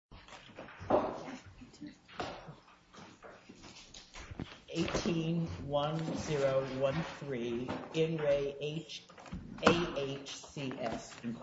18-1-0-1-3, In Re A.H.C.S., Inc. 18-1-0-1-3, In Re A.H.C.S., Inc.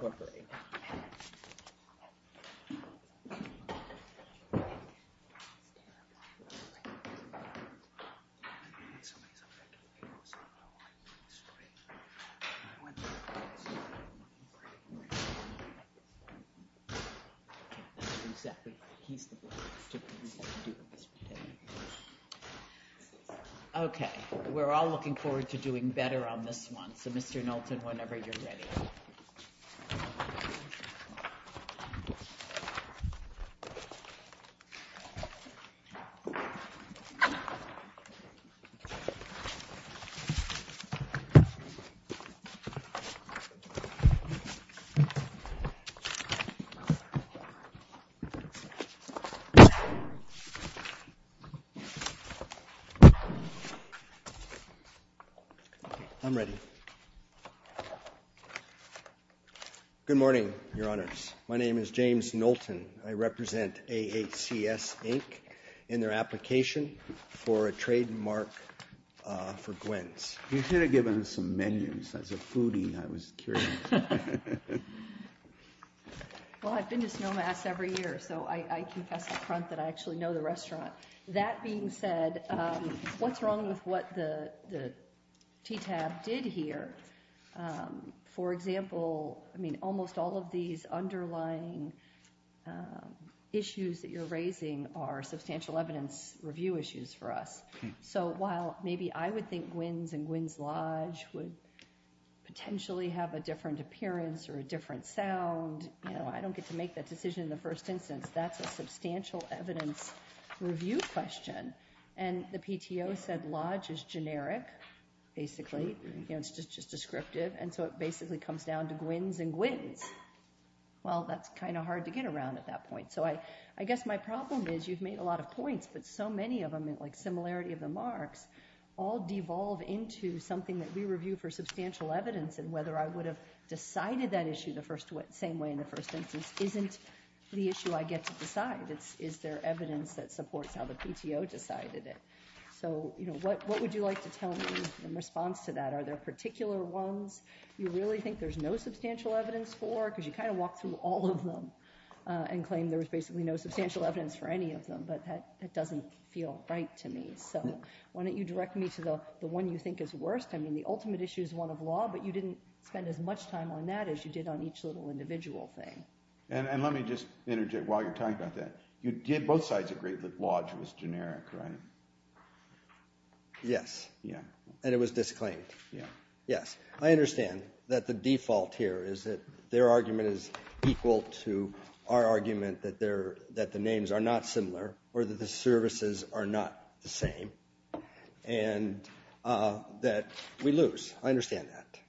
I'm ready. Good morning, Your Honors. My name is James Knowlton. I represent A.H.C.S., Inc. in their application for a trademark for Gwen's. You should have given us some menus. As a foodie, I was curious. Well, I've been to Snowmass every year, so I confess up front that I actually know the restaurant. That being said, what's wrong with what the TTAB did here? For example, I mean, almost all of these underlying issues that you're raising are substantial evidence review issues for us. So while maybe I would think Gwen's and Gwen's Lodge would potentially have a different appearance or a different sound, I don't get to make that decision in the first instance. That's a substantial evidence review question. And the PTO said Lodge is generic, basically. It's just descriptive. And so it basically comes down to Gwen's and Gwen's. Well, that's kind of hard to get around at that point. So I guess my problem is you've made a lot of points, but so many of them, like similarity of the marks, all devolve into something that we review for substantial evidence. And whether I would have decided that issue the same way in the first instance isn't the issue I get to decide. It's is there evidence that supports how the PTO decided it. So what would you like to tell me in response to that? Are there particular ones you really think there's no substantial evidence for? Because you kind of walked through all of them and claimed there was basically no substantial evidence for any of them. But that doesn't feel right to me. So why don't you direct me to the one you think is worst? I mean, the ultimate issue is one of law, but you didn't spend as much time on that as you did on each little individual thing. And let me just interject while you're talking about that. You did both sides agree that Lodge was generic, right? Yes. Yeah. And it was disclaimed. Yeah. Yes, I understand that the default here is that their argument is equal to our argument that the names are not similar or that the services are not the same and that we lose. I understand that.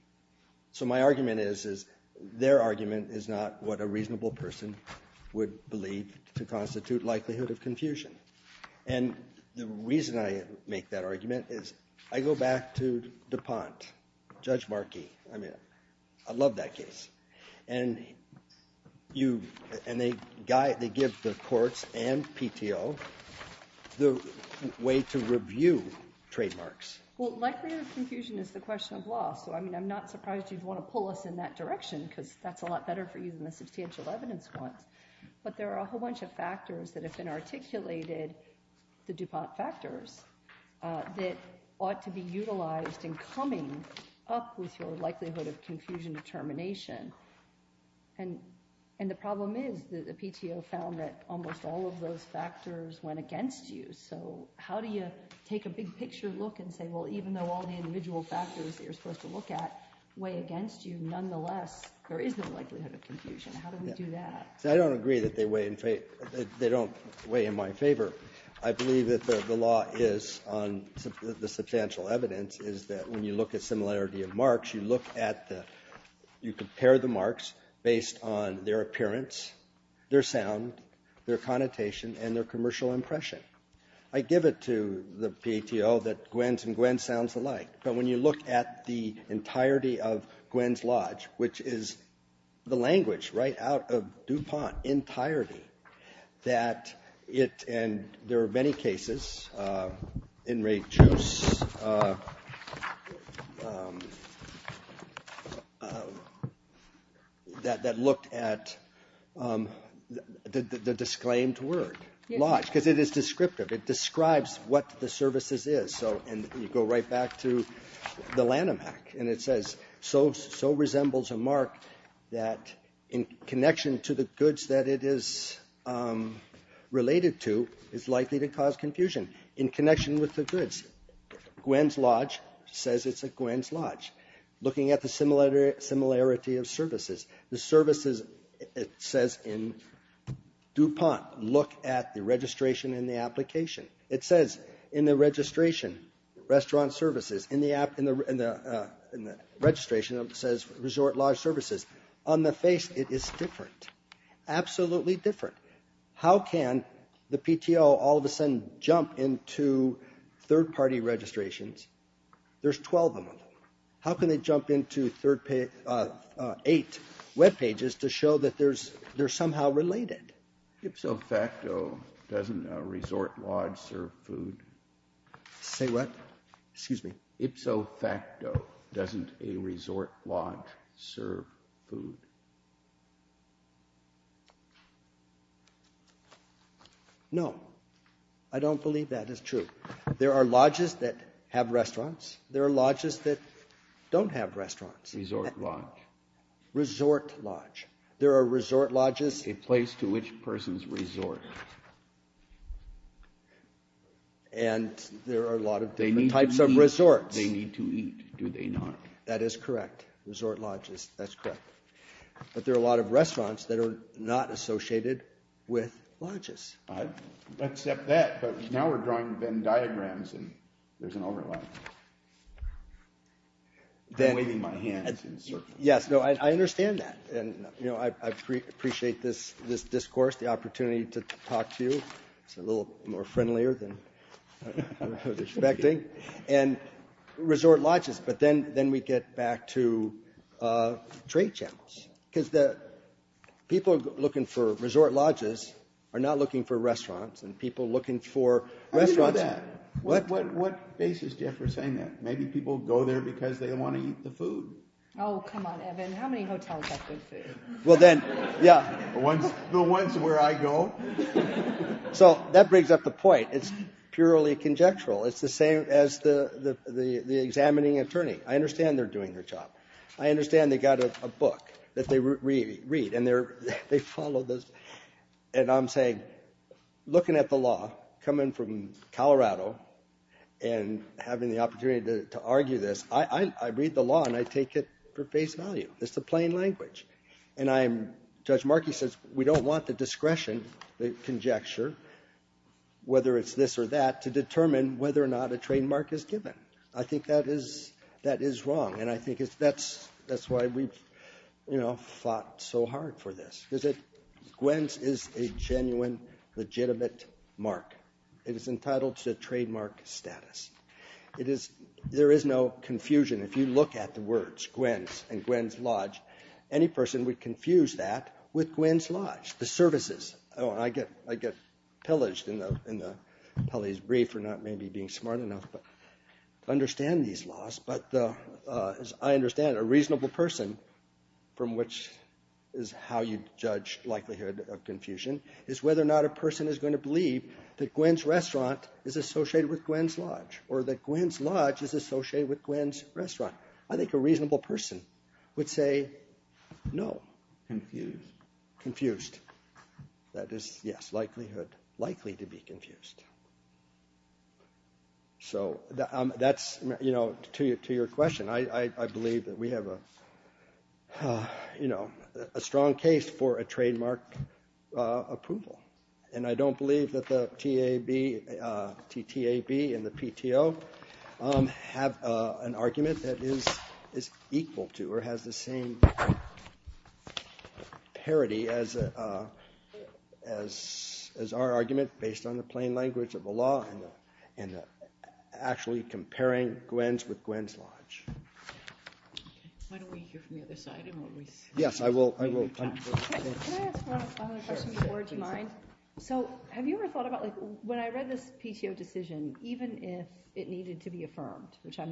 So my argument is their argument is not what a reasonable person would believe to constitute likelihood of confusion. And the reason I make that argument is I go back to DuPont, Judge Markey. I mean, I love that case. And they give the courts and PTO the way to review trademarks. Well, likelihood of confusion is the question of law. So, I mean, I'm not surprised you'd want to pull us in that direction because that's a lot better for you than the substantial evidence one. But there are a whole bunch of factors that have been articulated, the DuPont factors, that ought to be utilized in coming up with your likelihood of confusion determination. And the problem is that the PTO found that almost all of those factors went against you. So how do you take a big picture look and say, well, even though all the individual factors you're supposed to look at way against you, nonetheless, there is no likelihood of confusion. How do we do that? See, I don't agree that they weigh in my favor. I believe that the law is on the substantial evidence is that when you look at similarity of marks, you look at the you compare the marks based on their appearance, their sound, their connotation, and their commercial impression. I give it to the PTO that Gwen's and Gwen's sounds alike. But when you look at the entirety of Gwen's Lodge, which is the language right out of DuPont entirety, that it and there are many cases in Ray Choose. That looked at the disclaimed word lodge because it is descriptive. It describes what the services is. So, and you go right back to the Lanham Act, and it says, so resembles a mark that in connection to the goods that it is related to is likely to cause confusion. In connection with the goods, Gwen's Lodge says it's a Gwen's Lodge. Looking at the similarity of services. The services, it says in DuPont, look at the registration and the application. It says in the registration, restaurant services, in the app, in the registration, it says resort lodge services. On the face, it is different. Absolutely different. How can the PTO all of a sudden jump into third party registrations? There's 12 of them. How can they jump into third page, eight web pages to show that there's, they're somehow related? Ipso facto, doesn't a resort lodge serve food? Say what? Excuse me. Ipso facto, doesn't a resort lodge serve food? No. I don't believe that is true. There are lodges that have restaurants. There are lodges that don't have restaurants. Resort lodge. Resort lodge. There are resort lodges. A place to which persons resort. And there are a lot of different types of resorts. They need to eat, do they not? That is correct. Resort lodges, that's correct. But there are a lot of restaurants that are not associated with lodges. I accept that, but now we're drawing Venn diagrams and there's an overlap. I'm waving my hands in circles. Yes, no, I understand that. And, you know, I appreciate this discourse, the opportunity to talk to you. It's a little more friendlier than I was expecting. And resort lodges, but then we get back to trade channels. Because the people looking for resort lodges are not looking for restaurants and people looking for restaurants. I didn't know that. What basis do you have for saying that? Maybe people go there because they want to eat the food. Oh, come on, Evan. How many hotels have good food? Well, then, yeah. The ones where I go. So that brings up the point. It's purely conjectural. It's the same as the examining attorney. I understand they're doing their job. I understand they've got a book that they read. And they follow this. And I'm saying, looking at the law, coming from Colorado and having the opportunity to argue this, I read the law and I take it for face value. It's the plain language. And Judge Markey says we don't want the discretion, the conjecture, whether it's this or that, to determine whether or not a trademark is given. I think that is wrong. And I think that's why we've fought so hard for this. Because Gwens is a genuine, legitimate mark. It is entitled to a trademark status. There is no confusion. If you look at the words Gwens and Gwens Lodge, any person would confuse that with Gwens Lodge, the services. I get pillaged in Pelley's brief for not maybe being smart enough to understand these laws. But as I understand it, a reasonable person, from which is how you judge likelihood of confusion, is whether or not a person is going to believe that Gwens Restaurant is associated with Gwens Lodge. Or that Gwens Lodge is associated with Gwens Restaurant. I think a reasonable person would say no. Confused. Confused. That is, yes, likelihood. Likely to be confused. So that's to your question. I believe that we have a strong case for a trademark approval. And I don't believe that the TTAB and the PTO have an argument that is equal to or has the same parity as our argument based on the plain language of the law and actually comparing Gwens with Gwens Lodge. Why don't we hear from the other side? Yes, I will. Can I ask one more question before? Do you mind? So have you ever thought about when I read this PTO decision, even if it needed to be affirmed, which I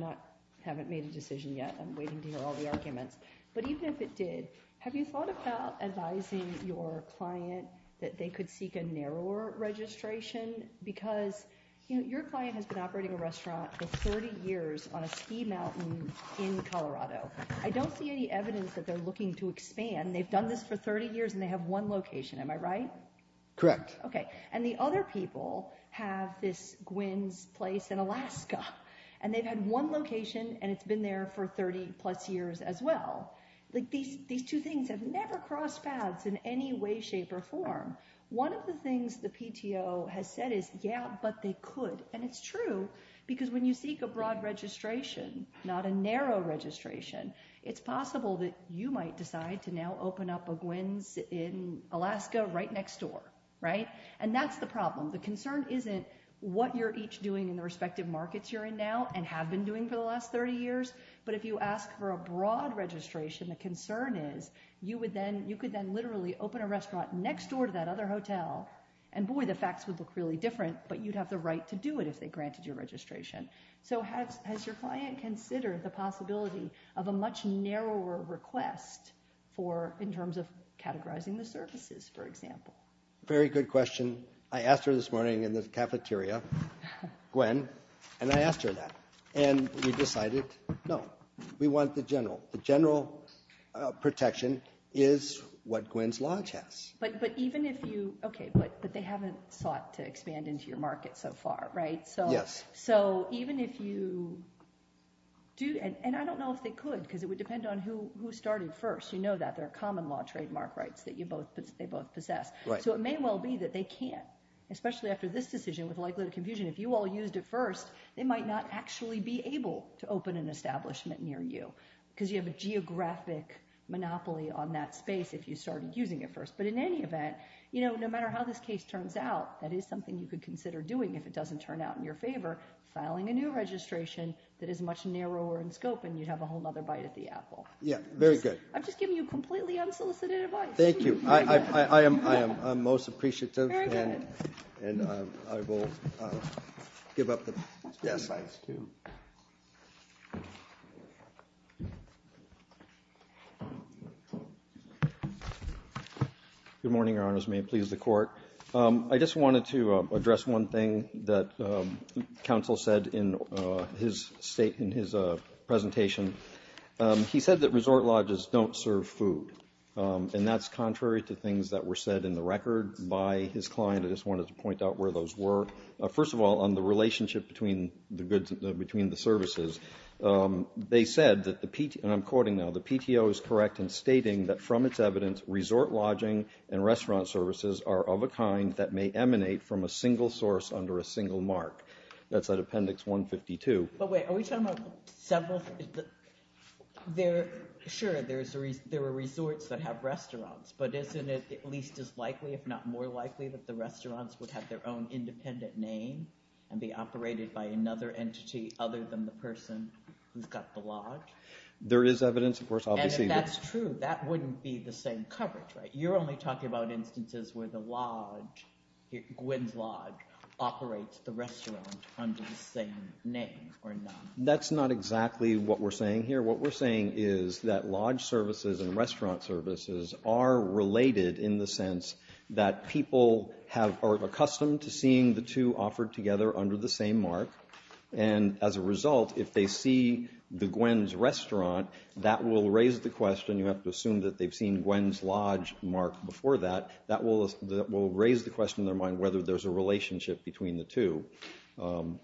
haven't made a decision yet. I'm waiting to hear all the arguments. But even if it did, have you thought about advising your client that they could seek a narrower registration? Because your client has been operating a restaurant for 30 years on a ski mountain in Colorado. I don't see any evidence that they're looking to expand. They've done this for 30 years and they have one location. Am I right? Correct. Okay. And the other people have this Gwens place in Alaska. And they've had one location and it's been there for 30 plus years as well. These two things have never crossed paths in any way, shape, or form. One of the things the PTO has said is, yeah, but they could. And it's true because when you seek a broad registration, not a narrow registration, it's possible that you might decide to now open up a Gwens in Alaska right next door. Right? And that's the problem. The concern isn't what you're each doing in the respective markets you're in now and have been doing for the last 30 years. But if you ask for a broad registration, the concern is you could then literally open a restaurant next door to that other hotel. And boy, the facts would look really different. But you'd have the right to do it if they granted your registration. So has your client considered the possibility of a much narrower request in terms of categorizing the services, for example? Very good question. I asked her this morning in the cafeteria, Gwen, and I asked her that. And we decided no. We want the general. The general protection is what Gwens Lodge has. But even if you – okay, but they haven't sought to expand into your market so far, right? Yes. So even if you do – and I don't know if they could because it would depend on who started first. You know that. There are common law trademark rights that they both possess. Right. So it may well be that they can't, especially after this decision with likelihood of confusion. If you all used it first, they might not actually be able to open an establishment near you because you have a geographic monopoly on that space if you started using it first. But in any event, no matter how this case turns out, that is something you could consider doing if it doesn't turn out in your favor, filing a new registration that is much narrower in scope and you'd have a whole other bite at the apple. Yes. Very good. I'm just giving you completely unsolicited advice. Thank you. I am most appreciative and I will give up the slides too. Good morning, Your Honors. May it please the Court. I just wanted to address one thing that counsel said in his presentation. He said that resort lodges don't serve food. And that's contrary to things that were said in the record by his client. I just wanted to point out where those were. First of all, on the relationship between the services, they said that the PTO, and I'm quoting now, the PTO is correct in stating that from its evidence, resort lodging and restaurant services are of a kind that may emanate from a single source under a single mark. That's at Appendix 152. But wait, are we talking about several? Sure, there are resorts that have restaurants, but isn't it at least as likely, if not more likely, that the restaurants would have their own independent name and be operated by another entity other than the person who's got the lodge? There is evidence, of course, obviously. And if that's true, that wouldn't be the same coverage, right? That's not exactly what we're saying here. What we're saying is that lodge services and restaurant services are related in the sense that people are accustomed to seeing the two offered together under the same mark. And as a result, if they see the Gwen's Restaurant, that will raise the question, you have to assume that they've seen Gwen's Lodge mark before that, that will raise the question in their mind whether there's a relationship between the two.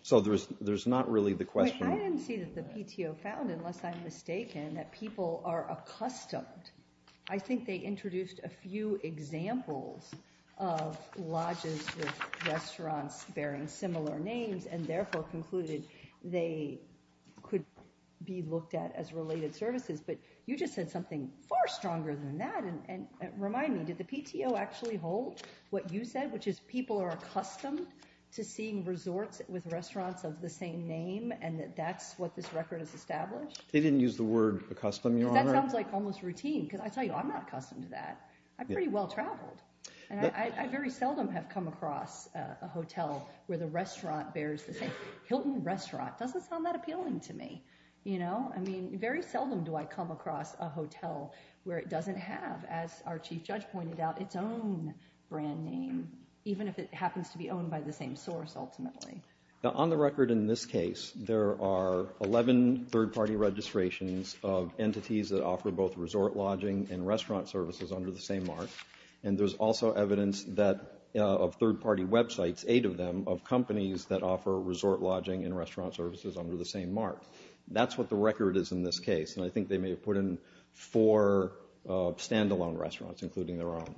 So there's not really the question. I didn't see that the PTO found, unless I'm mistaken, that people are accustomed. I think they introduced a few examples of lodges with restaurants bearing similar names and therefore concluded they could be looked at as related services. But you just said something far stronger than that. And remind me, did the PTO actually hold what you said, which is people are accustomed to seeing resorts with restaurants of the same name and that that's what this record has established? They didn't use the word accustomed, Your Honor. Because that sounds like almost routine. Because I tell you, I'm not accustomed to that. I've pretty well traveled. And I very seldom have come across a hotel where the restaurant bears the same. Hilton Restaurant doesn't sound that appealing to me. You know? I mean, very seldom do I come across a hotel where it doesn't have, as our Chief Judge pointed out, its own brand name, even if it happens to be owned by the same source, ultimately. Now, on the record in this case, there are 11 third-party registrations of entities that offer both resort lodging and restaurant services under the same mark. And there's also evidence of third-party websites, eight of them, of companies that offer resort lodging and restaurant services under the same mark. That's what the record is in this case. And I think they may have put in four stand-alone restaurants, including their own.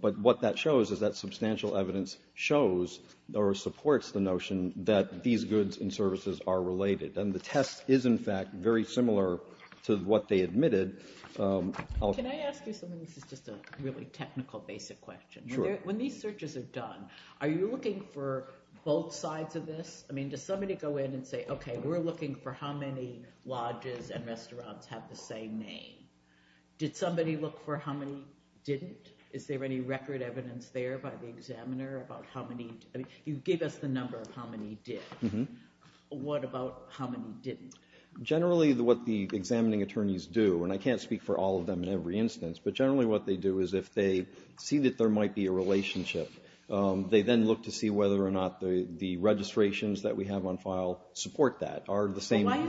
But what that shows is that substantial evidence shows or supports the notion that these goods and services are related. And the test is, in fact, very similar to what they admitted. Can I ask you something? This is just a really technical, basic question. Sure. When these searches are done, are you looking for both sides of this? I mean, does somebody go in and say, okay, we're looking for how many lodges and restaurants have the same name? Did somebody look for how many didn't? Is there any record evidence there by the examiner about how many? I mean, you gave us the number of how many did. What about how many didn't? Generally, what the examining attorneys do, and I can't speak for all of them in every instance, but generally what they do is if they see that there might be a Why is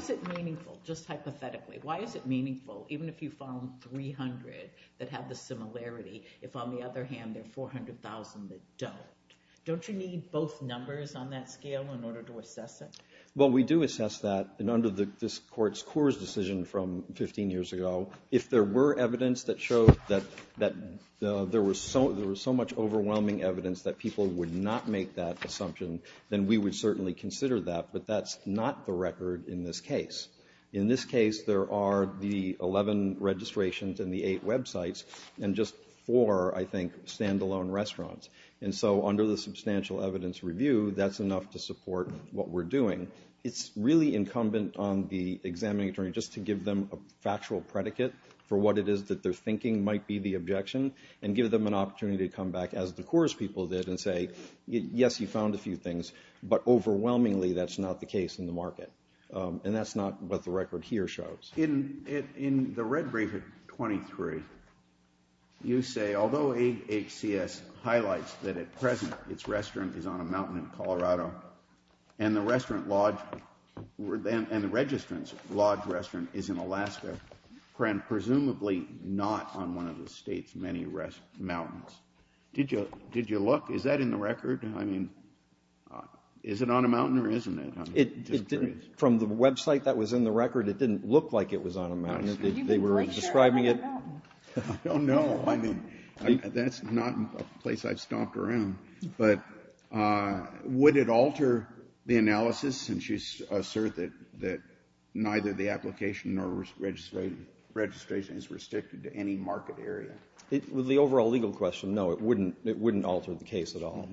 it meaningful, just hypothetically? Why is it meaningful, even if you found 300 that have the similarity, if on the other hand there are 400,000 that don't? Don't you need both numbers on that scale in order to assess it? Well, we do assess that. And under this Court's Coors decision from 15 years ago, if there were evidence that showed that there was so much overwhelming evidence that people would not make that assumption, then we would certainly consider that. But that's not the record in this case. In this case, there are the 11 registrations and the eight websites and just four, I think, stand-alone restaurants. And so under the Substantial Evidence Review, that's enough to support what we're doing. It's really incumbent on the examining attorney just to give them a factual predicate for what it is that they're thinking might be the objection and give them an opportunity to come back, as the Coors people did, and say, yes, you found a few things, but overwhelmingly that's not the case in the market. And that's not what the record here shows. In the red brief at 23, you say, although AHCS highlights that at present its restaurant is on a mountain in Colorado and the registrant's lodged restaurant is in Alaska, and presumably not on one of the state's many mountains. Did you look? Is that in the record? I mean, is it on a mountain or isn't it? I'm just curious. From the website that was in the record, it didn't look like it was on a mountain. They were describing it. I don't know. I mean, that's not a place I've stomped around. But would it alter the analysis since you assert that neither the application nor registration is restricted to any market area? With the overall legal question, no, it wouldn't alter the case at all.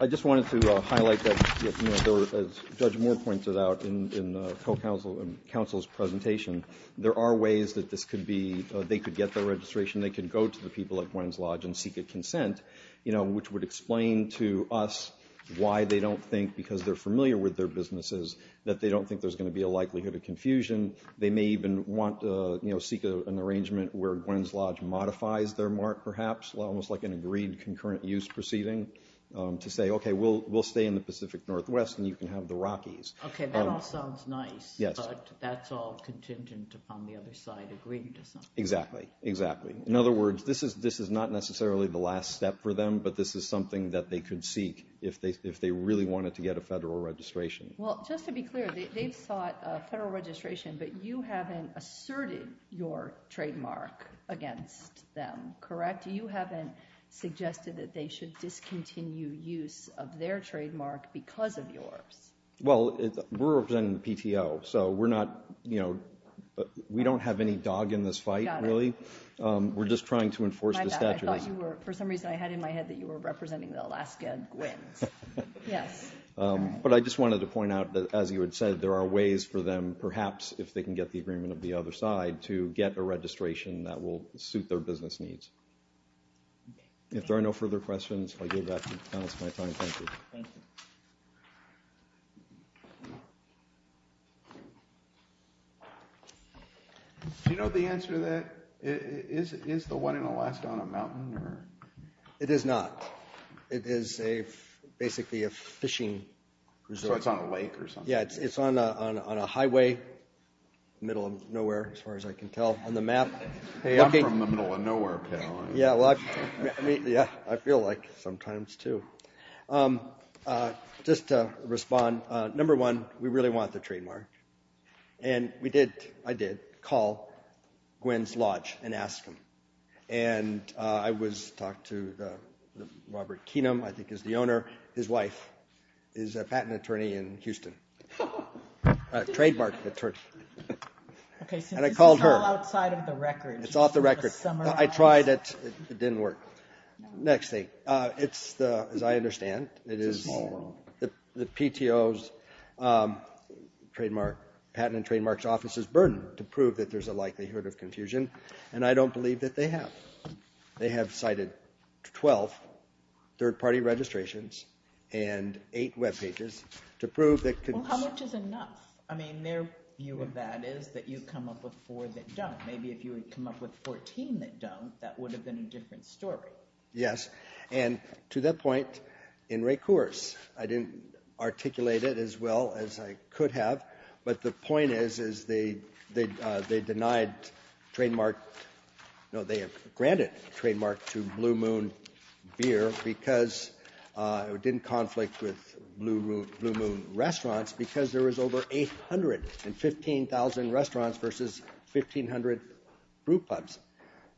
I just wanted to highlight that, as Judge Moore pointed out in the co-counsel's presentation, there are ways that they could get their registration. They could go to the people at Gwen's Lodge and seek a consent, which would explain to us why they don't think, because they're familiar with their businesses, that they don't think there's going to be a likelihood of confusion. They may even want to seek an arrangement where Gwen's Lodge modifies their mark, perhaps, almost like an agreed concurrent use proceeding, to say, okay, we'll stay in the Pacific Northwest and you can have the Rockies. Okay, that all sounds nice. Yes. But that's all contingent upon the other side agreeing to something. Exactly, exactly. In other words, this is not necessarily the last step for them, but this is something that they could seek if they really wanted to get a federal registration. Well, just to be clear, they've sought a federal registration, but you haven't asserted your trademark against them, correct? You haven't suggested that they should discontinue use of their trademark because of yours. Well, we're representing the PTO, so we're not, you know, we don't have any dog in this fight, really. We're just trying to enforce the statutes. I thought you were, for some reason I had in my head that you were representing the Alaska Gwen's. Yes. But I just wanted to point out that, as you had said, there are ways for them, perhaps, if they can get the agreement of the other side, to get a registration that will suit their business needs. Okay. If there are no further questions, I'll give that panelist my time. Thank you. Thank you. Do you know the answer to that? Is the one in Alaska on a mountain? It is not. It is basically a fishing resort. So it's on a lake or something? Yeah, it's on a highway, middle of nowhere, as far as I can tell on the map. I'm from the middle of nowhere, pal. Yeah, I feel like sometimes, too. Just to respond, number one, we really want the trademark. And we did, I did, call Gwen's Lodge and ask them. And I talked to Robert Keenum, I think is the owner. His wife is a patent attorney in Houston, trademark attorney. Okay, so this is all outside of the record. It's off the record. I tried it. It didn't work. Next thing. It's the, as I understand, it is the PTO's trademark, patent and trademark's office's burden to prove that there's a likelihood of confusion. And I don't believe that they have. They have cited 12 third-party registrations and eight webpages to prove that. Well, how much is enough? I mean, their view of that is that you come up with four that don't. Maybe if you had come up with 14 that don't, that would have been a different story. Yes. And to that point, in recourse, I didn't articulate it as well as I could have. But the point is, is they denied trademark. No, they have granted trademark to Blue Moon Beer because it didn't conflict with Blue Moon restaurants because there was over 815,000 restaurants versus 1,500 brew pubs.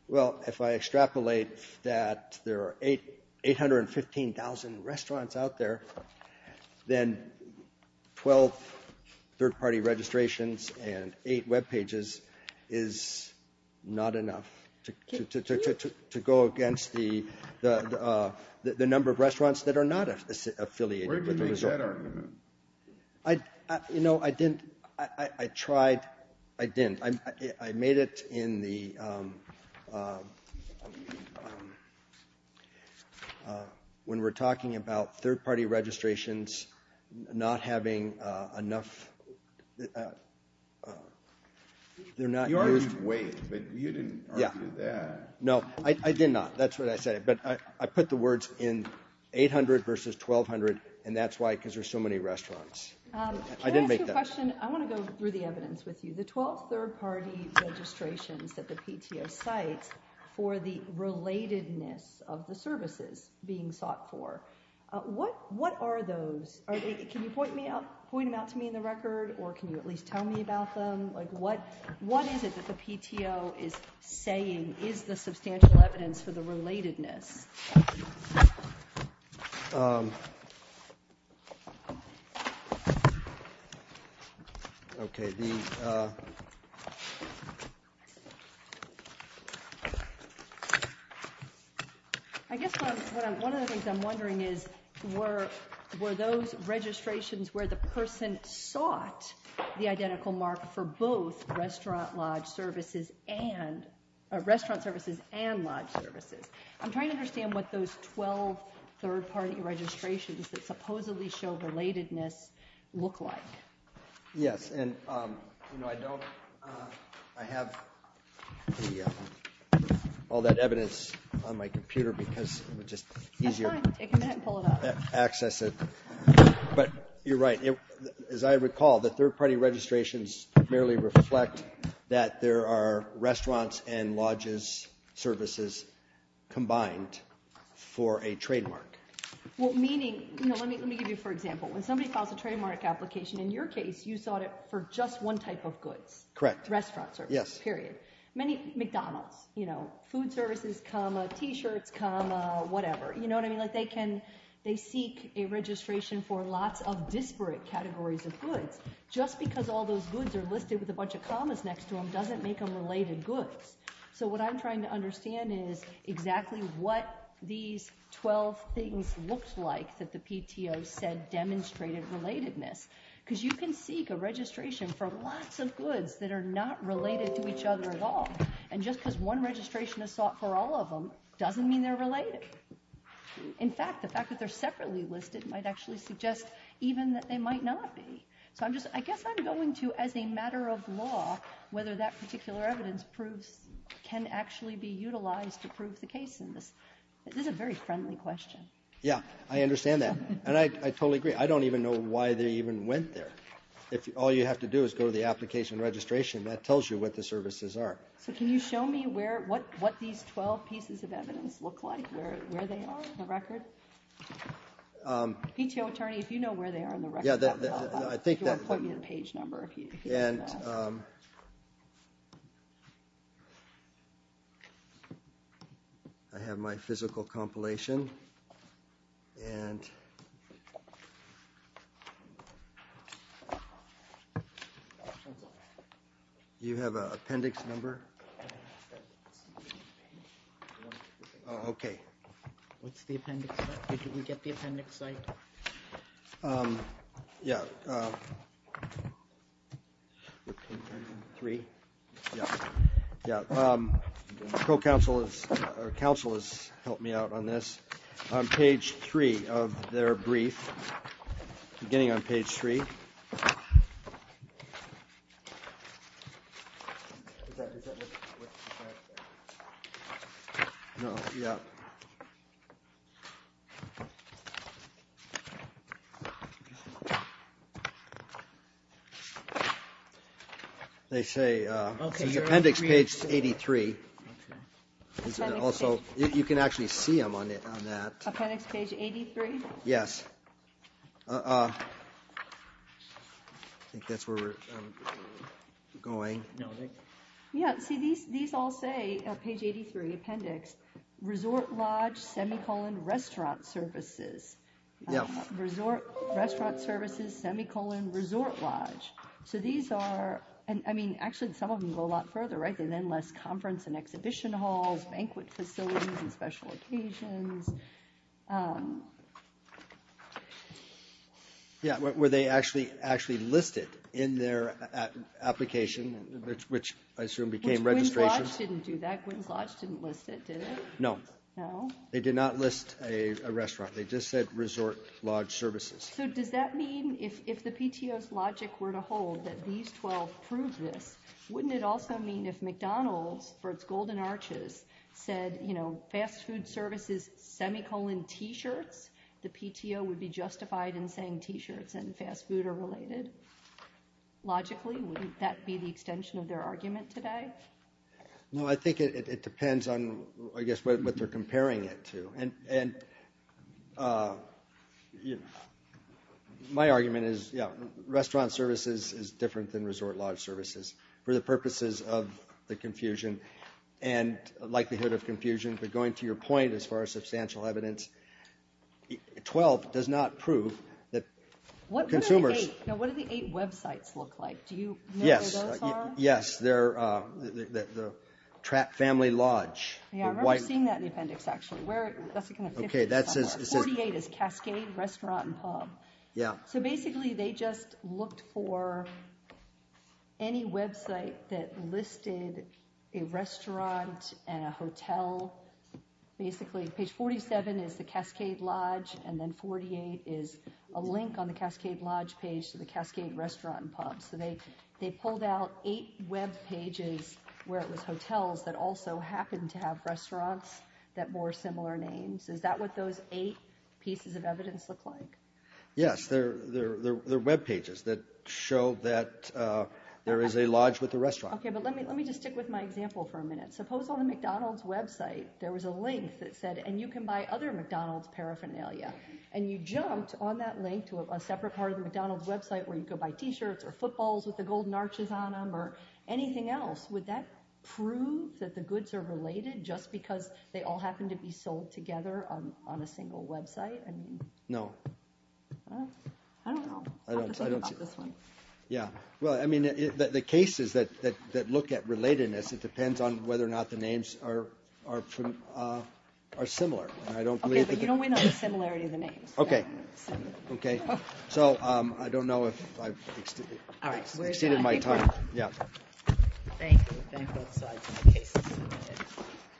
Well, if I extrapolate that there are 815,000 restaurants out there, then 12 third-party registrations and eight webpages is not enough to go against the number of restaurants that are not affiliated with the resort. Where did you make that argument? You know, I didn't. I tried. I didn't. I made it in the, when we're talking about third-party registrations not having enough, they're not used. You argued wait, but you didn't argue that. No, I did not. That's what I said. But I put the words in 800 versus 1,200, and that's why, because there's so many restaurants. I didn't make that. Can I ask you a question? I want to go through the evidence with you. The 12 third-party registrations that the PTO cites for the relatedness of the services being sought for, what are those? Can you point them out to me in the record, or can you at least tell me about them? What is it that the PTO is saying is the substantial evidence for the relatedness? I guess one of the things I'm wondering is, were those registrations where the person sought the identical mark for both restaurant lodge services and, restaurant services and lodge services? I'm trying to understand what those 12 third-party registrations that supposedly show relatedness look like. Yes, and I have all that evidence on my computer because it's just easier to access it. But you're right. As I recall, the third-party registrations merely reflect that there are restaurants and lodges services combined for a trademark. Meaning, let me give you an example. When somebody files a trademark application, in your case, you sought it for just one type of goods. Correct. Restaurants, period. McDonald's, food services, t-shirts, whatever. They seek a registration for lots of disparate categories of goods. Just because all those goods are listed with a bunch of commas next to them doesn't make them related goods. So what I'm trying to understand is exactly what these 12 things looked like that the PTO said demonstrated relatedness. Because you can seek a registration for lots of goods that are not related to each other at all. And just because one registration is sought for all of them doesn't mean they're related. In fact, the fact that they're separately listed might actually suggest even that they might not be. So I guess I'm going to, as a matter of law, whether that particular evidence can actually be utilized to prove the case in this. This is a very friendly question. Yeah, I understand that. And I totally agree. I don't even know why they even went there. All you have to do is go to the application registration. That tells you what the services are. So can you show me what these 12 pieces of evidence look like, where they are in the record? PTO attorney, if you know where they are in the record, you can point me to the page number. I have my physical compilation. Do you have an appendix number? Okay. What's the appendix? Did we get the appendix site? Yeah. Three? Yeah. Yeah. Pro counsel has helped me out on this. On page three of their brief, beginning on page three. Yeah. They say appendix page 83. Also, you can actually see them on that. Appendix page 83? Yes. I think that's where we're going. Yeah. See, these all say, page 83, appendix, resort lodge, semicolon, restaurant services. Yeah. Resort, restaurant services, semicolon, resort lodge. So these are, I mean, actually some of them go a lot further, right? They're then less conference and exhibition halls, banquet facilities and special occasions. Yeah. Were they actually listed in their application, which I assume became registration? Which Gwyn's Lodge didn't do that. Gwyn's Lodge didn't list it, did it? No. No? They did not list a restaurant. They just said resort lodge services. So does that mean if the PTO's logic were to hold that these 12 proved this, wouldn't it also mean if McDonald's, for its golden arches, said, you know, fast food services, semicolon, t-shirts, the PTO would be justified in saying t-shirts and fast food are related? Logically, wouldn't that be the extension of their argument today? No, I think it depends on, I guess, what they're comparing it to. And my argument is, yeah, restaurant services is different than resort lodge services for the purposes of the confusion. And likelihood of confusion. But going to your point as far as substantial evidence, 12 does not prove that consumers. Now, what do the eight websites look like? Do you know where those are? Yes. Yes. They're the family lodge. Yeah, I remember seeing that in the appendix, actually. That's in the 50s somewhere. 48 is Cascade Restaurant and Pub. Yeah. So basically, they just looked for any website that listed a restaurant and a hotel. Basically, page 47 is the Cascade Lodge, and then 48 is a link on the Cascade Lodge page to the Cascade Restaurant and Pub. So they pulled out eight webpages where it was hotels that also happened to have restaurants that bore similar names. Is that what those eight pieces of evidence look like? Yes. They're webpages that show that there is a lodge with a restaurant. Okay, but let me just stick with my example for a minute. Suppose on the McDonald's website, there was a link that said, and you can buy other McDonald's paraphernalia. And you jumped on that link to a separate part of the McDonald's website where you could buy T-shirts or footballs with the golden arches on them or anything else. Would that prove that the goods are related just because they all happen to be sold together on a single website? No. Well, I don't know. I'll have to think about this one. Yeah. Well, I mean, the cases that look at relatedness, it depends on whether or not the names are similar. Okay, but you don't win on the similarity of the names. Okay. Okay. So I don't know if I've exceeded my time. Yeah. Thank you. Thank both sides. My case is submitted.